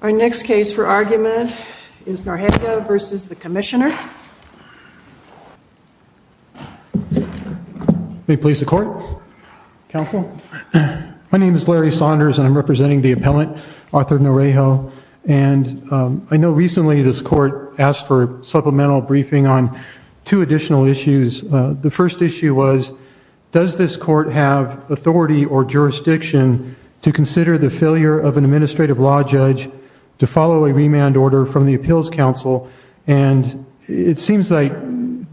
Our next case for argument is Noreja v. Commissioner, SSA May it please the Court? Counsel? My name is Larry Saunders and I'm representing the appellant, Arthur Noreja. I know recently this Court asked for a supplemental briefing on two additional issues. The first issue was, does this Court have authority or jurisdiction to consider the failure of an administrative law judge to follow a remand order from the Appeals Council? And it seems like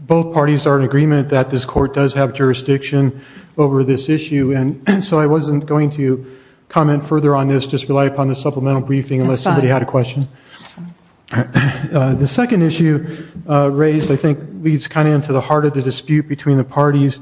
both parties are in agreement that this Court does have jurisdiction over this issue, and so I wasn't going to comment further on this, just rely upon the supplemental briefing unless somebody had a question. The second issue raised, I think, leads kind of into the heart of the dispute between the parties.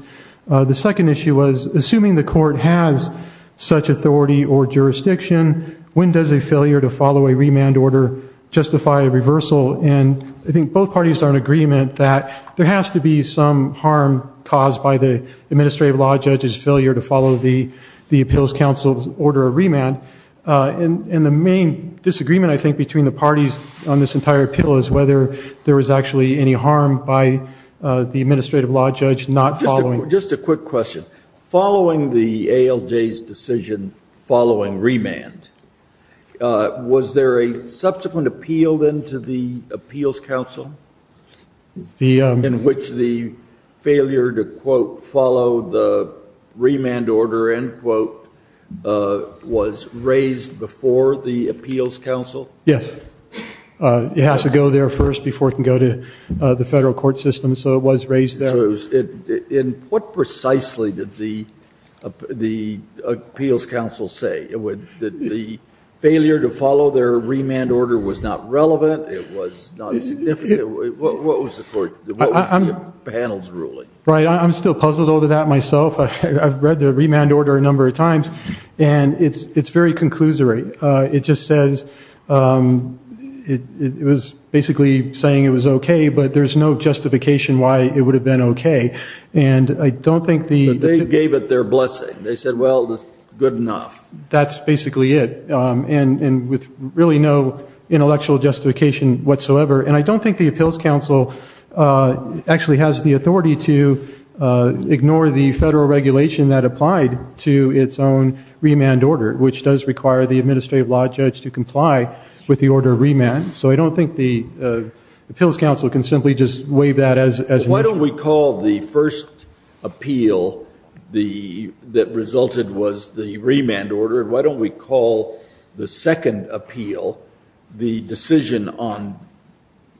The second issue was, assuming the Court has such authority or jurisdiction, when does a failure to follow a remand order justify a reversal? And I think both parties are in agreement that there has to be some harm caused by the administrative law judge's failure to follow the Appeals Council's order for a remand. And the main disagreement, I think, between the parties on this entire appeal is whether there was actually any harm by the administrative law judge not following. Just a quick question. Following the ALJ's decision following remand, was there a subsequent appeal then to the Appeals Council in which the failure to quote, follow the remand order, end quote, was raised before the Appeals Council? Yes. It has to go there first before it can go to the federal court system, so it was raised there. And what precisely did the Appeals Council say? That the failure to follow their remand order was not relevant, it was not significant. What was the panel's ruling? I'm still puzzled over that myself. I've read the remand order a number of times, and it's very conclusory. It just says, it was basically saying it was okay, but there's no justification why it would have been okay. They gave it their blessing. They said, well, it's good enough. That's basically it. And with really no intellectual justification whatsoever. And I don't think the Appeals Council actually has the authority to ignore the federal regulation that applied to its own remand order, which does require the administrative law judge to comply with the order of remand. So I don't think the Appeals Council can simply just waive that as an issue. Why don't we call the first appeal that resulted was the remand order, and why don't we call the second appeal the decision on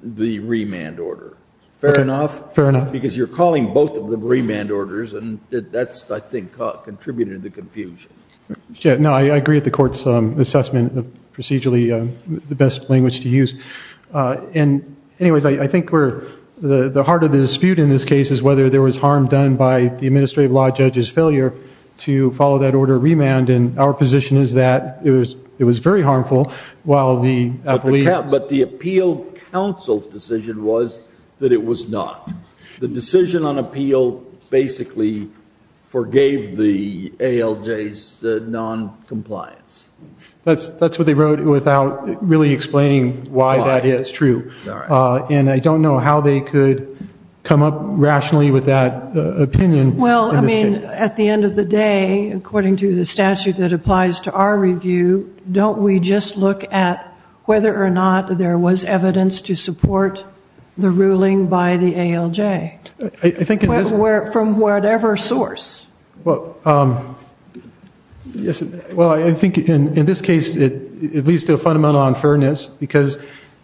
the remand order? Fair enough? Fair enough. Because you're calling both of the remand orders, and that's, I think, contributing to the confusion. I agree with the Court's assessment of procedurally the best language to use. And anyways, I think we're, the heart of the dispute in this case is whether there was harm done by the administrative law judge's failure to follow that order of remand, and our position is that it was very harmful. But the Appeals Council's decision was that it was not. The decision on appeal basically forgave the ALJ's noncompliance. That's what they wrote without really explaining why that is true. And I don't know how they could come up rationally with that opinion. Well, I mean, at the end of the day, according to the statute that applies to our review, don't we just look at whether or not there was evidence to support the ruling by the ALJ from whatever source? Well, I think in this case it leads to a fundamental unfairness, because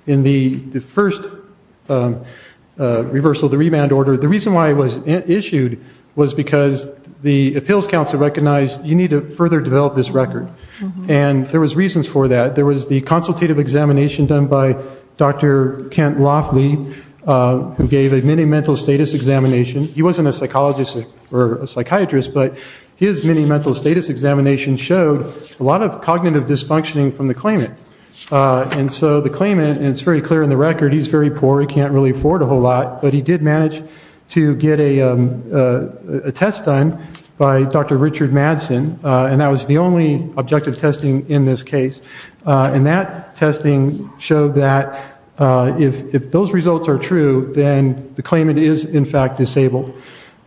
in the first reversal of the remand order, the reason why it was issued was because the Appeals Council recognized you need to further develop this record. And there was reasons for that. There was the consultative examination done by Dr. Kent Loffley, who gave a mini mental status examination. He wasn't a psychologist or a psychiatrist, but his mini mental status examination showed a lot of cognitive dysfunctioning from the claimant. And so the claimant, and it's very clear in the record, he's very poor, he can't really afford a whole lot, but he did manage to get a test done by Dr. Richard Madsen, and that was the only objective testing in this case. And that testing showed that if those results are true, then the claimant is in fact disabled.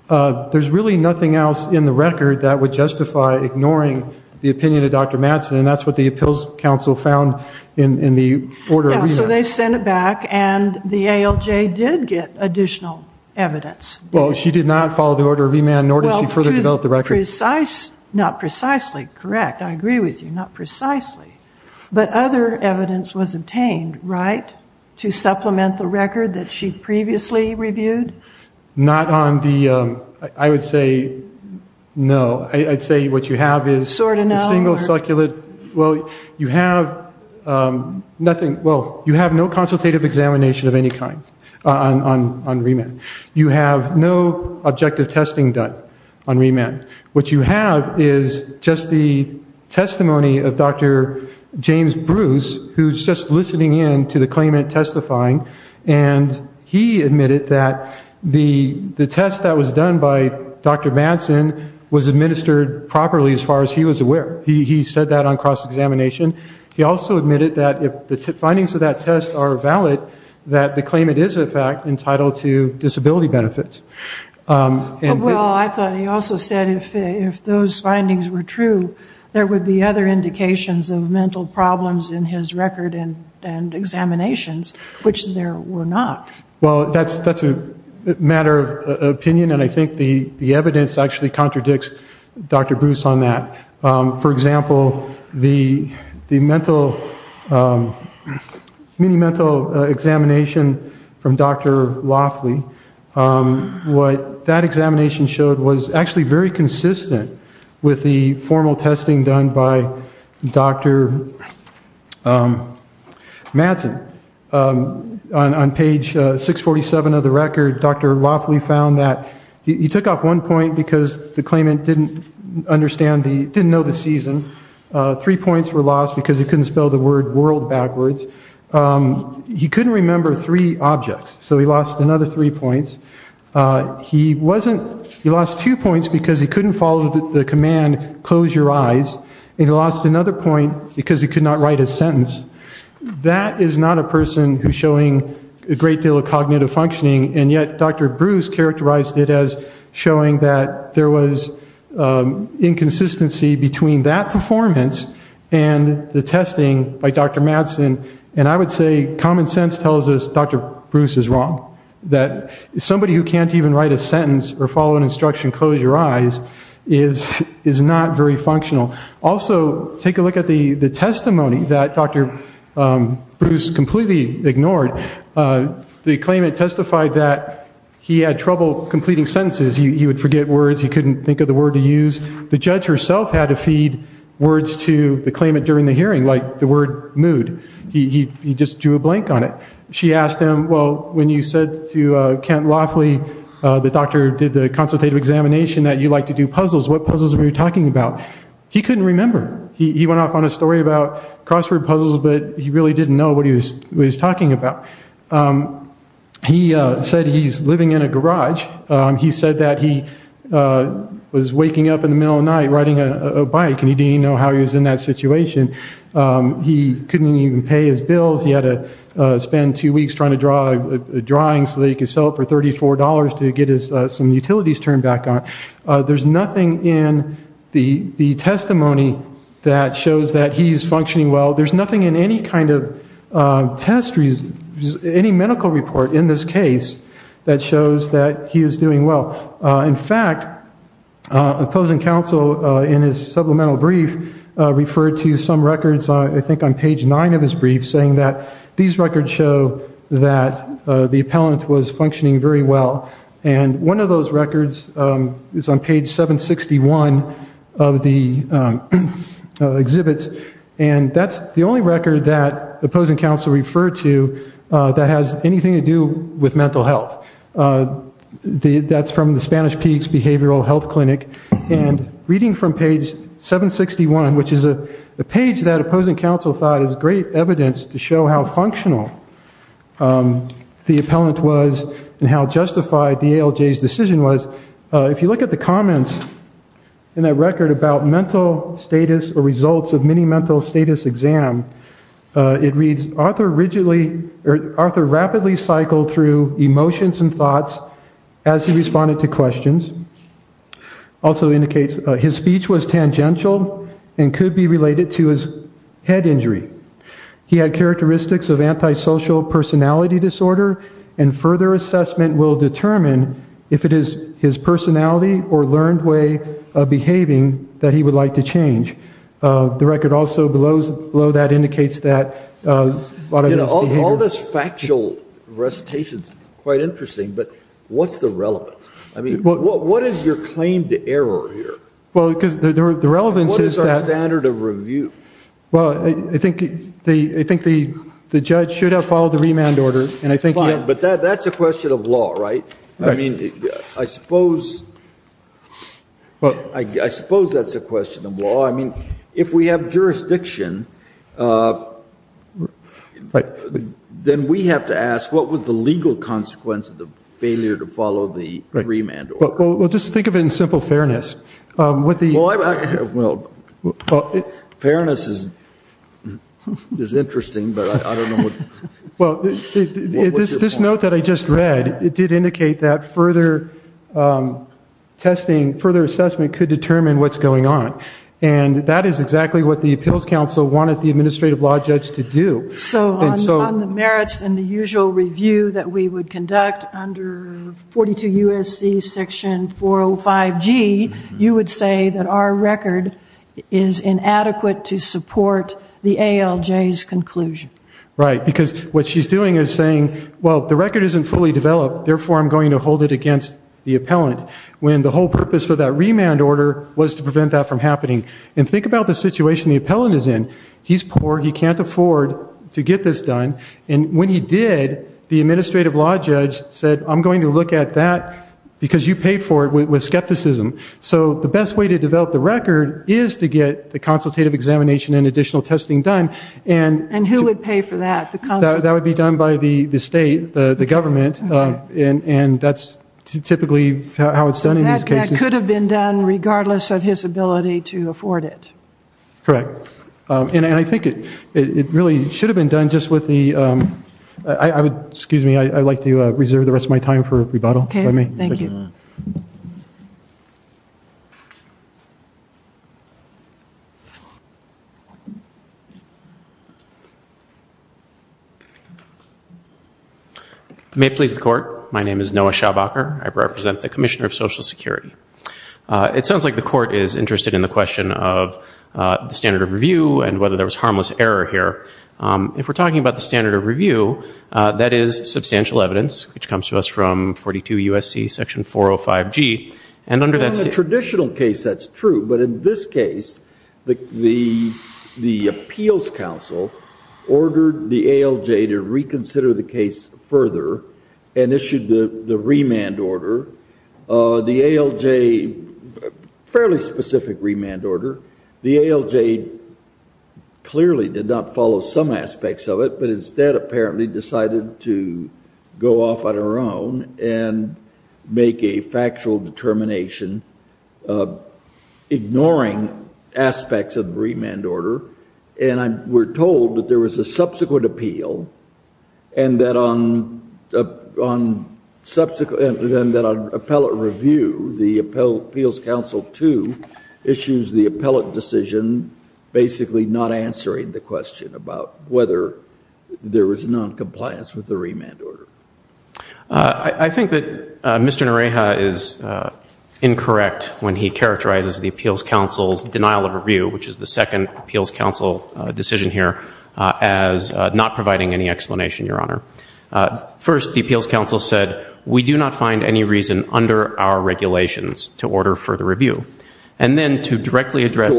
There's really nothing else in the record that would justify ignoring the opinion of Dr. Madsen, and that's what the Appeals Council found in the order of remand. So they sent it back, and the ALJ did get additional evidence. Well, she did not follow the order of remand, nor did she further develop the record. Not precisely correct. I agree with you, not precisely. But other evidence was obtained, right, to supplement the record that she previously reviewed? Not on the, I would say no. I'd say what you have is a single succulent, well, you have nothing, well, you have no consultative examination of any kind on remand. You have no objective testing done on remand. What you have is just the testimony of Dr. James Bruce, who's just listening in to the claimant testifying, and he admitted that the test that was done by Dr. Madsen was administered properly as far as he was aware. He said that on cross-examination. He also admitted that if the findings were true, there would be other indications of mental problems in his record and examinations, which there were not. Well, that's a matter of opinion, and I think the evidence actually contradicts Dr. Bruce on that. For example, the mental, mini-mental examination from Dr. Loffley, what that examination showed was actually very consistent with the formal testing done by Dr. Madsen. On page 647 of the record, Dr. Loffley found that he took off one point because the claimant didn't understand, didn't know the season. Three points were lost because he couldn't spell the word world backwards. He couldn't remember three objects, so he lost another three points. He wasn't, he lost two points because he couldn't follow the command, close your eyes, and he lost another point because he could not write a sentence. That is not a person who's showing a great deal of cognitive functioning, and yet Dr. Bruce characterized it as showing that there was inconsistency between that performance and the testing by Dr. Madsen, and I would say common sense tells us Dr. Bruce is wrong, that somebody who can't even write a sentence or follow an instruction, close your eyes, is not very functional. Also, take a look at the testimony that Dr. Bruce completely ignored. The claimant testified that he had trouble completing sentences. He would forget words. He couldn't think of the word to use. The judge herself had to feed words to the claimant during the hearing, like the word mood. He just drew a blank on it. She asked him, well, when you said to Kent Loffley, the doctor did the consultative examination, that you like to do puzzles, what puzzles were you talking about? He couldn't remember. He went off on a story about crossword puzzles, but he really didn't know what he was talking about. He said he's living in a garage. He said that he was waking up in the middle of the night riding a bike, and he didn't even know how he was in that situation. He couldn't even pay his bills. He had to spend two weeks trying to draw a drawing so that he could sell it for $34 to get his utilities turned back on. There's nothing in the testimony that shows that he's functioning well. There's nothing in any kind of test report, any medical report in this case, that shows that he is doing well. In fact, opposing counsel in his supplemental brief referred to some records, I think on page nine of his brief, saying that these records show that the appellant was functioning very well, and one of those records is on page 761 of the exhibits, and that's the only record that opposing counsel referred to that has anything to do with mental health. That's from the Spanish Peaks Behavioral Health Clinic, and reading from page 761, which is a page that opposing counsel thought is great evidence to show how functional the appellant was and how justified the ALJ's decision was, if you look at the comments in that record about mental status or results of mini mental status exam, it reads, Arthur rapidly cycled through emotions and thoughts as he responded to and could be related to his head injury. He had characteristics of antisocial personality disorder, and further assessment will determine if it is his personality or learned way of behaving that he would like to change. The record also below that indicates that a lot of his behavior... You know, all this factual recitation is quite interesting, but what's the relevance? I mean, what is your claim to error here? What is our standard of review? Fine, but that's a question of law, right? I suppose that's a question of law. If we have jurisdiction, then we have to ask, what was the legal consequence of the failure to follow the remand order? Well, just think of it in simple fairness. Fairness is interesting, but I don't know what... This note that I just read, it did indicate that further assessment could determine what's going on. And that is exactly what the Appeals Council wanted the Administrative Law Judge to do. So on the merits and the usual review that we would conduct under 42 U.S.C. Section 405G, you would say that our record is inadequate to support the ALJ's conclusion. Right, because what she's doing is saying, well, the record isn't fully developed, therefore I'm going to hold it against the appellant, when the whole purpose for that remand order was to prevent that from happening. And think about the situation the appellant is in. He's poor, he can't afford to get this done, and when he did, the Administrative Law Judge said, I'm going to look at that because you paid for it with skepticism. So the best way to develop the record is to get the consultative examination and additional testing done. And who would pay for that? That would be done by the state, the government, and that's typically how it's done in these cases. That could have been done regardless of his ability to afford it. Correct. And I think it really should have been done just with the... Excuse me, I'd like to reserve the rest of my time for rebuttal. Okay, thank you. May it please the Court, my name is Noah Schaubacher, I represent the Commissioner of Social Security. It sounds like the Court is interested in the question of the standard of review and whether there was harmless error here. If we're talking about the standard of review, that is substantial evidence, which comes to us from 42 U.S.C. Section 405G, and under that... In a traditional case, that's true, but in this case, the Appeals Council ordered the ALJ to reconsider the case further and issued the remand order. The ALJ, fairly specific remand order, the ALJ clearly did not follow some aspects of it, but instead apparently decided to go off on her own and make a factual determination ignoring aspects of the remand order. And we're told that there was a subsequent appeal and that on subsequent... And that on appellate review, the basically not answering the question about whether there was noncompliance with the remand order. I think that Mr. Noriega is incorrect when he characterizes the Appeals Council's denial of review, which is the second Appeals Council decision here, as not providing any explanation, Your Honor. First, the Appeals Council said, we do not find any reason under our regulations to order further review. And then to directly address...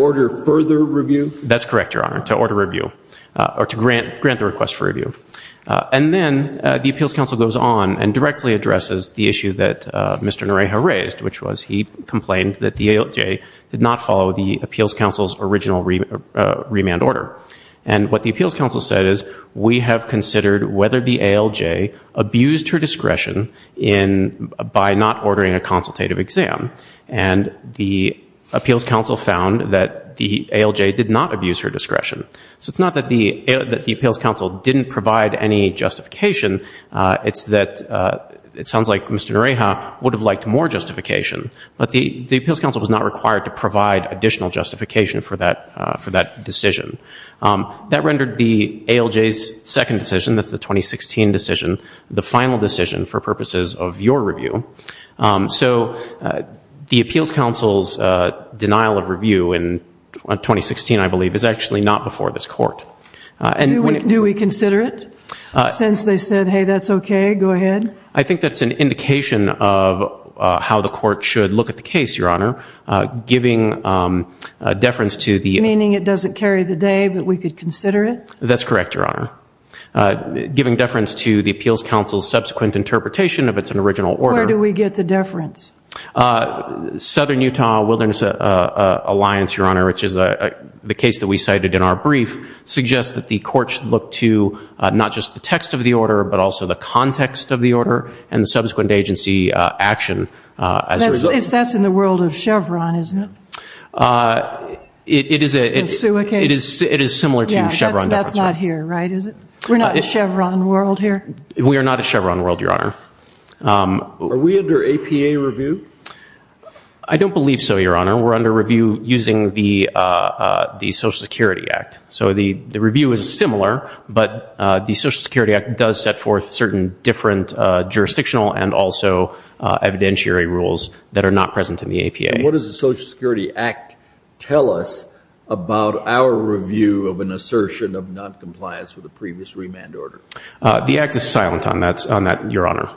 That's correct, Your Honor, to order review, or to grant the request for review. And then the Appeals Council goes on and directly addresses the issue that Mr. Noriega raised, which was he complained that the ALJ did not follow the Appeals Council's original remand order. And what the Appeals Council said is, we have considered whether the Appeals Council found that the ALJ did not abuse her discretion. So it's not that the Appeals Council didn't provide any justification. It's that it sounds like Mr. Noriega would have liked more justification. But the Appeals Council was not required to provide additional justification for that decision. That rendered the ALJ's second decision, that's the 2016 decision, the final decision for purposes of your review. So the Appeals Council's denial of review in 2016, I believe, is actually not before this Court. Do we consider it? Since they said, hey, that's okay, go ahead? I think that's an indication of how the Court should look at the case, Your Honor. Giving deference to the... Meaning it doesn't carry the day, but we could consider it? That's correct, Your Honor. Giving deference to the Appeals Council's subsequent interpretation of its original order... Where do we get the deference? Southern Utah Wilderness Alliance, Your Honor, which is the case that we cited in our brief, suggests that the Court should look to not just the text of the order, but also the context of the order and the subsequent agency action as a result. That's in the world of Chevron, isn't it? It is similar to Chevron. That's not here, right, is it? We're not in Chevron world here? We are not in Chevron world, Your Honor. Are we under APA review? I don't believe so, Your Honor. We're under review using the Social Security Act. So the review is similar, but the Social Security Act does set forth certain different jurisdictional and also evidentiary rules that are not present in the APA. What does the Social Security Act tell us about our review of an assertion of noncompliance with the previous remand order? The Act is silent on that, Your Honor.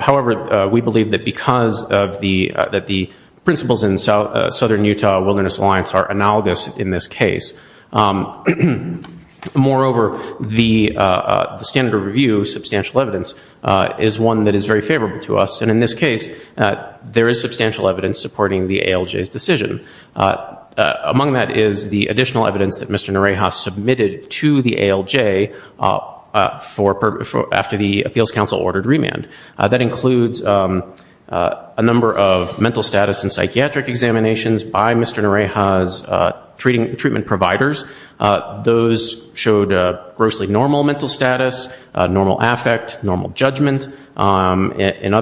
However, we believe that because the principles in Southern Utah Wilderness Alliance are analogous in this case. Moreover, the standard of review of substantial evidence is one that is very favorable to us. And in this case, there is substantial evidence supporting the ALJ's decision. Among that is the additional evidence that Mr. Nareha submitted to the ALJ after the Appeals Council ordered remand. That includes a number of mental status and psychiatric examinations by Mr. Nareha's treatment providers. Those showed grossly normal mental status, normal affect, normal judgment. At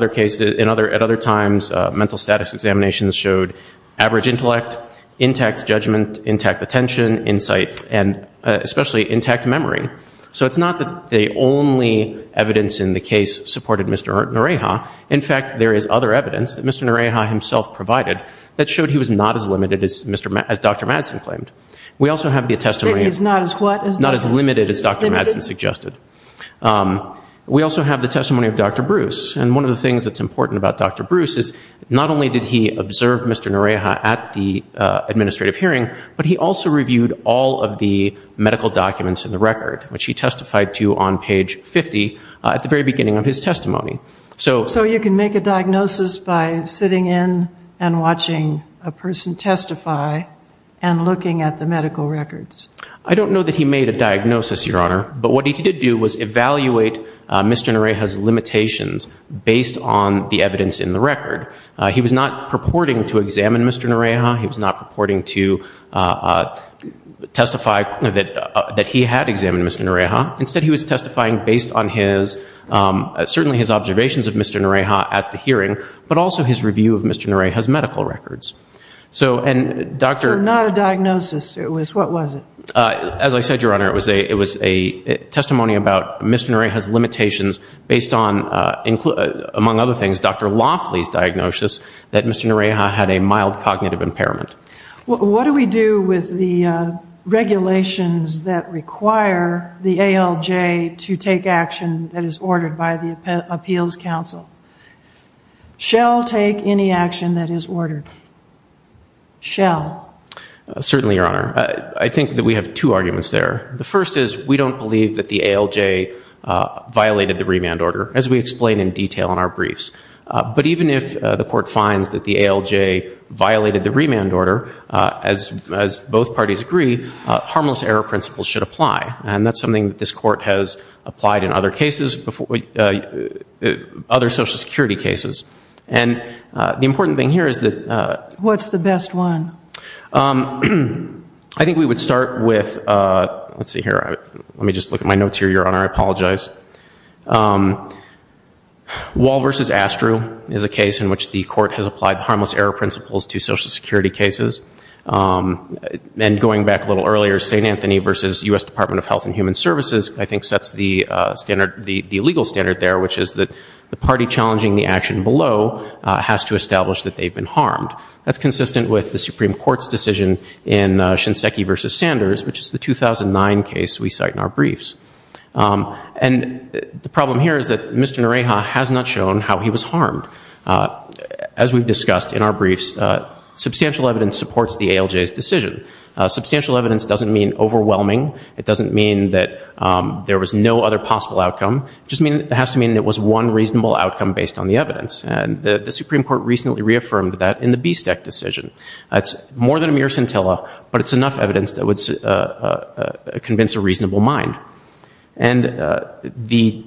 other times, mental status examinations showed average intellect, intact judgment, intact attention, insight, and especially intact memory. So it's not that the only evidence in the case supported Mr. Nareha. In fact, there is other evidence that Mr. Nareha himself provided that showed he was not as limited as Dr. Madsen claimed. We also have the testimony... We also have the testimony of Dr. Bruce. And one of the things that's important about Dr. Bruce is not only did he observe Mr. Nareha at the administrative hearing, but he also reviewed all of the medical documents in the record, which he testified to on page 50 at the very beginning of his testimony. So you can make a diagnosis by sitting in and watching a person testify and looking at the medical records? I don't know that he made a diagnosis, Your Honor, but what he did do was evaluate Mr. Nareha's limitations based on the evidence in the record. He was not purporting to examine Mr. Nareha. He was not purporting to testify that he had examined Mr. Nareha. Instead, he was testifying based on certainly his observations of Mr. Nareha at the hearing, but also his review of Mr. Nareha's medical records. So not a diagnosis. What was it? As I said, Your Honor, it was a testimony about Mr. Nareha's limitations based on, among other things, Dr. Laughley's diagnosis that Mr. Nareha had a mild cognitive impairment. What do we do with the regulations that require the ALJ to take action that is ordered by the Appeals Council? Shall take any action that is ordered. Shall. Certainly, Your Honor. I think that we have two arguments there. The first is we don't believe that the ALJ violated the remand order, as we explain in detail in our briefs. But even if the Court finds that the ALJ violated the remand order, as both parties agree, harmless error principles should apply. And that's something that this Court has applied in other cases, other Social Security cases. And the important thing here is that... Let's see here. Let me just look at my notes here, Your Honor. I apologize. Wall v. Astru is a case in which the Court has applied harmless error principles to Social Security cases. And going back a little earlier, St. Anthony v. U.S. Department of Health and Human Services, I think, sets the legal standard there, which is that the party challenging the action below has to establish that they've been harmed. That's consistent with the Supreme Court's decision in Shinseki v. Sanders, which is the 2009 case we cite in our briefs. And the problem here is that Mr. Nareha has not shown how he was harmed. As we've discussed in our briefs, substantial evidence supports the ALJ's decision. Substantial evidence doesn't mean overwhelming. It doesn't mean that there was no other possible outcome. It just has to mean it was one reasonable outcome based on the evidence. And the Supreme Court recently reaffirmed that in the BSTEC decision. It's more than a mere scintilla, but it's enough evidence that would convince a reasonable mind. And the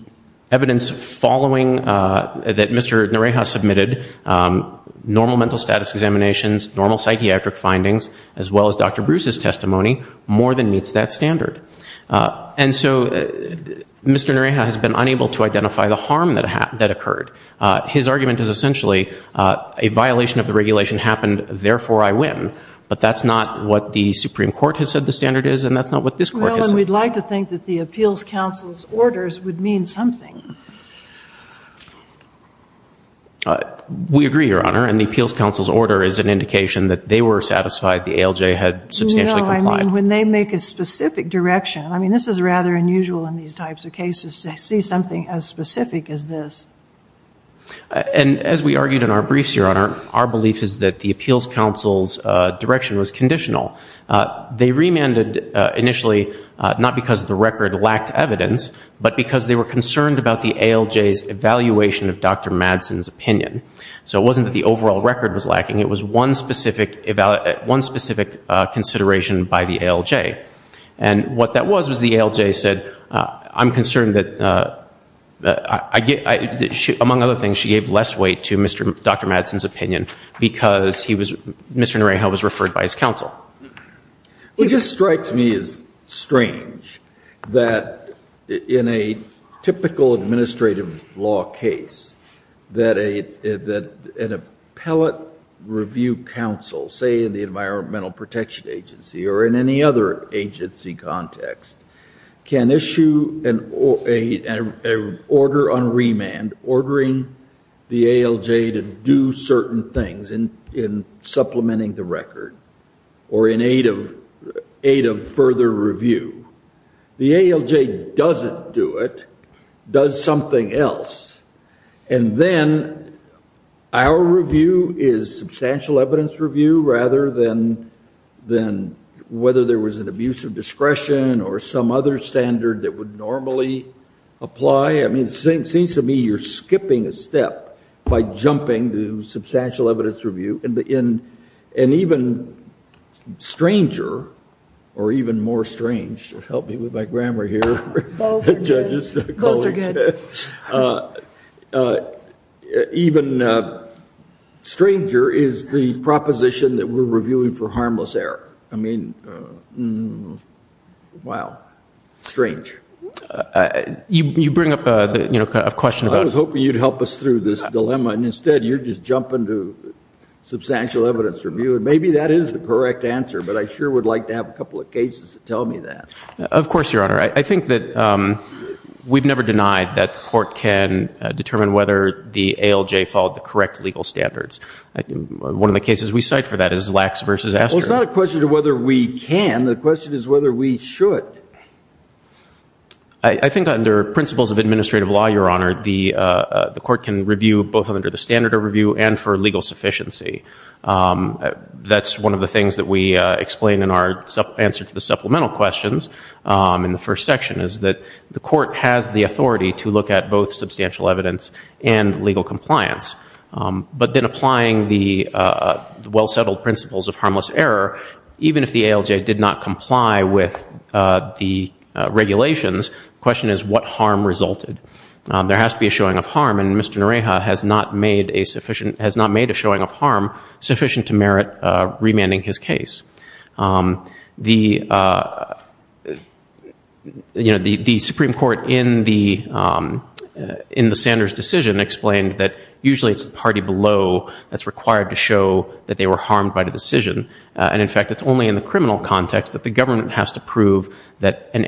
evidence following that Mr. Nareha submitted, normal mental status examinations, normal psychiatric findings, as well as Dr. Bruce's testimony, more than meets that standard. And that's not what the Supreme Court has said the standard is, and that's not what this court has said. Well, and we'd like to think that the Appeals Council's orders would mean something. We agree, Your Honor. And the Appeals Council's order is an indication that they were satisfied the ALJ had substantially complied. No, I mean, when they make a specific direction. I mean, this is rather unusual in these types of cases to see something as specific as this. And as we argued in our briefs, Your Honor, our belief is that the Appeals Council's direction was conditional. They remanded initially not because the record lacked evidence, but because they were concerned about the ALJ's evaluation of Dr. Madsen's opinion. So it wasn't that the overall record was lacking. It was one specific consideration by the ALJ. And what that was was the ALJ said, I'm concerned that among other things, she gave less weight to Dr. Madsen's opinion because Mr. Narayho was referred by his counsel. It just strikes me as strange that in a typical administrative law case, that an appellate review counsel, say in the Environmental Protection Agency or in any other agency context, can issue an order on remand ordering the ALJ to do certain things in supplementing the record or in aid of further review. The ALJ doesn't do it, does something else. And then our review is substantial evidence review rather than whether there was an abuse of discretion or some other standard that would normally apply. I mean, it seems to me you're skipping a step by jumping to substantial evidence review. And even stranger, or even more strange, help me with my grammar here. Even stranger is the proposition that we're reviewing for harmless error. I mean, wow. Strange. I was hoping you'd help us through this dilemma and instead you're just jumping to substantial evidence review. And maybe that is the correct answer, but I sure would like to have a couple of cases that tell me that. Of course, Your Honor. I think that we've never denied that the court can determine whether the ALJ followed the correct legal standards. One of the cases we cite for that is Lax v. Astor. Well, it's not a question of whether we can. The question is whether we should. I think under principles of administrative law, Your Honor, the that's one of the things that we explain in our answer to the supplemental questions in the first section is that the court has the authority to look at both substantial evidence and legal compliance. But then applying the well-settled principles of harmless error, even if the ALJ did not comply with the regulations, the question is what harm resulted. There has to be a showing of harm and Mr. Noreha has not made a showing of harm sufficient to merit remanding his case. The Supreme Court in the Sanders decision explained that usually it's the party below that's required to show that they were harmed by the decision. And in fact, it's only in the criminal context that the government has to prove that an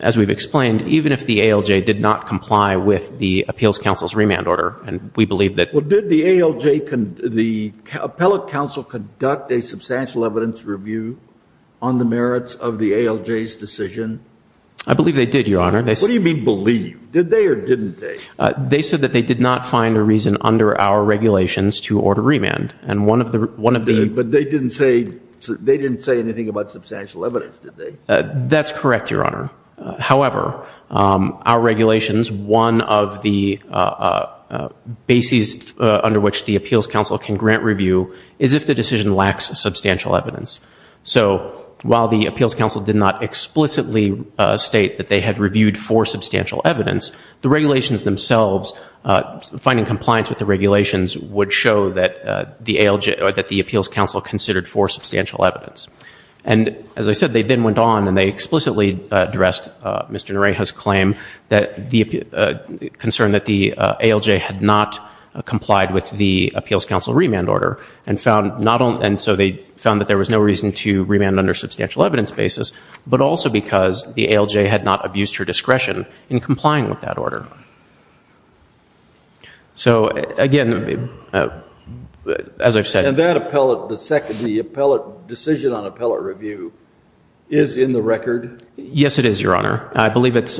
as we've explained, even if the ALJ did not comply with the appeals council's remand order, and we believe that. Well, did the ALJ, the appellate council conduct a substantial evidence review on the merits of the ALJ's decision? I believe they did, Your Honor. What do you mean believe? Did they or didn't they? They said that they did not find a reason under our regulations to order remand. And one of the reasons that they did not find a reason under our regulations to order remand was that they did not find a reason under our regulations to order remand. But they didn't say anything about substantial evidence, did they? That's correct, Your Honor. However, our regulations, one of the bases under which the appeals council can grant review is if the decision lacks substantial evidence. So while the appeals council did not explicitly state that they had reviewed for substantial evidence, the regulations themselves, finding compliance with the regulations, would show that the ALJ or that the appeals council considered for substantial evidence. And as I said, they then went on and they explicitly addressed Mr. Nareha's claim that the concern that the ALJ had not complied with the appeals council remand order. And so they found that there was no reason to remand under substantial evidence basis, but also because the ALJ had not abused her discretion in complying with that order. So again, as I've said. And that appellate, the decision on appellate review, is in the record? Yes, it is, Your Honor. It's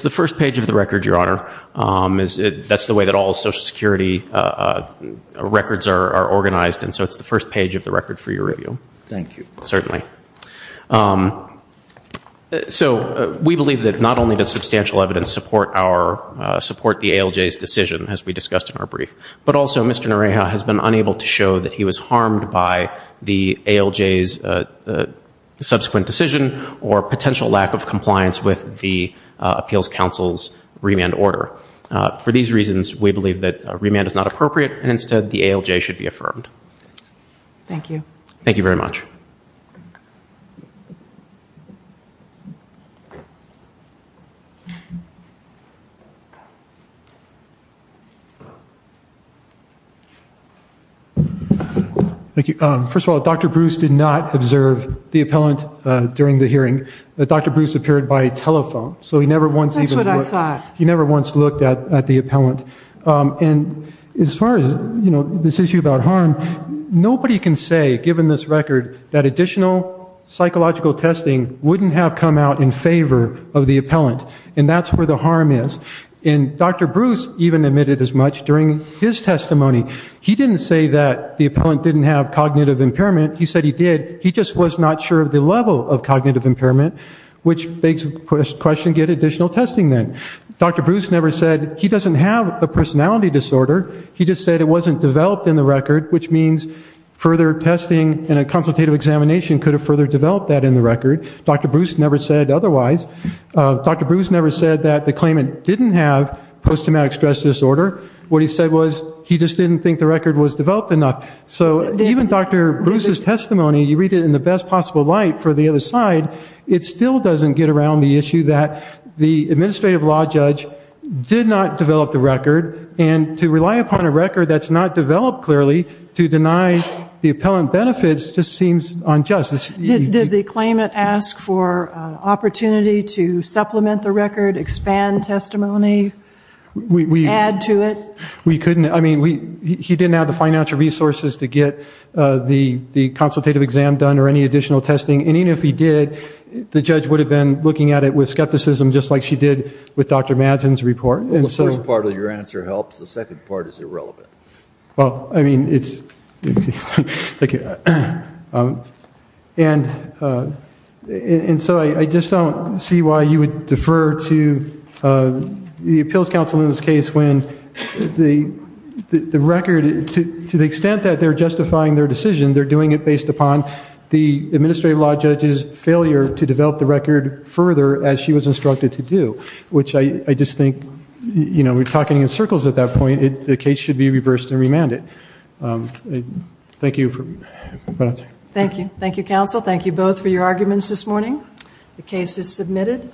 the first page of the record, Your Honor. That's the way that all social security records are organized. And so it's the first page of the record for your review. Thank you. So we believe that not only does substantial evidence support the ALJ's decision, as we discussed in our brief, but also Mr. Nareha has been unable to show that he was harmed by the ALJ's subsequent decision or potential lack of compliance with the appeals council's remand order. For these reasons, we believe that remand is not appropriate and instead the ALJ should be affirmed. Thank you. Thank you. First of all, Dr. Bruce did not observe the appellant during the hearing. Dr. Bruce appeared by telephone. That's what I thought. He never once looked at the appellant. As far as this issue about harm, nobody can say, given this record, that additional psychological testing wouldn't have come out in favor of the appellant. And that's where the problem is. In his testimony, he didn't say that the appellant didn't have cognitive impairment. He said he did. He just was not sure of the level of cognitive impairment, which begs the question, get additional testing then. Dr. Bruce never said he doesn't have a personality disorder. He just said it wasn't developed in the record, which means further testing and a consultative examination could have further developed that in the record. Dr. Bruce never said otherwise. Dr. Bruce never said that the claimant didn't have post-traumatic stress disorder. What he said was he just didn't think the record was developed enough. So even Dr. Bruce's testimony, you read it in the best possible light for the other side, it still doesn't get around the issue that the administrative law judge did not develop the record. And to rely upon a record that's not developed clearly to deny the appellant benefits just seems unjust. Did the claimant ask for opportunity to supplement the record, expand testimony, add to it? We couldn't. He didn't have the financial resources to get the consultative exam done or any additional testing. And even if he did, the judge would have been looking at it with skepticism just like she did with Dr. Madsen's report. The first part of your answer helps. The second part is okay. And so I just don't see why you would defer to the appeals counsel in this case when the record, to the extent that they're justifying their decision, they're doing it based upon the administrative law judge's failure to develop the record further as she was instructed to do, which I just think, you know, we're talking in circles at that point. The case should be reversed and remanded. Thank you. Thank you. Thank you, counsel. Thank you both for your arguments this morning. The case is submitted.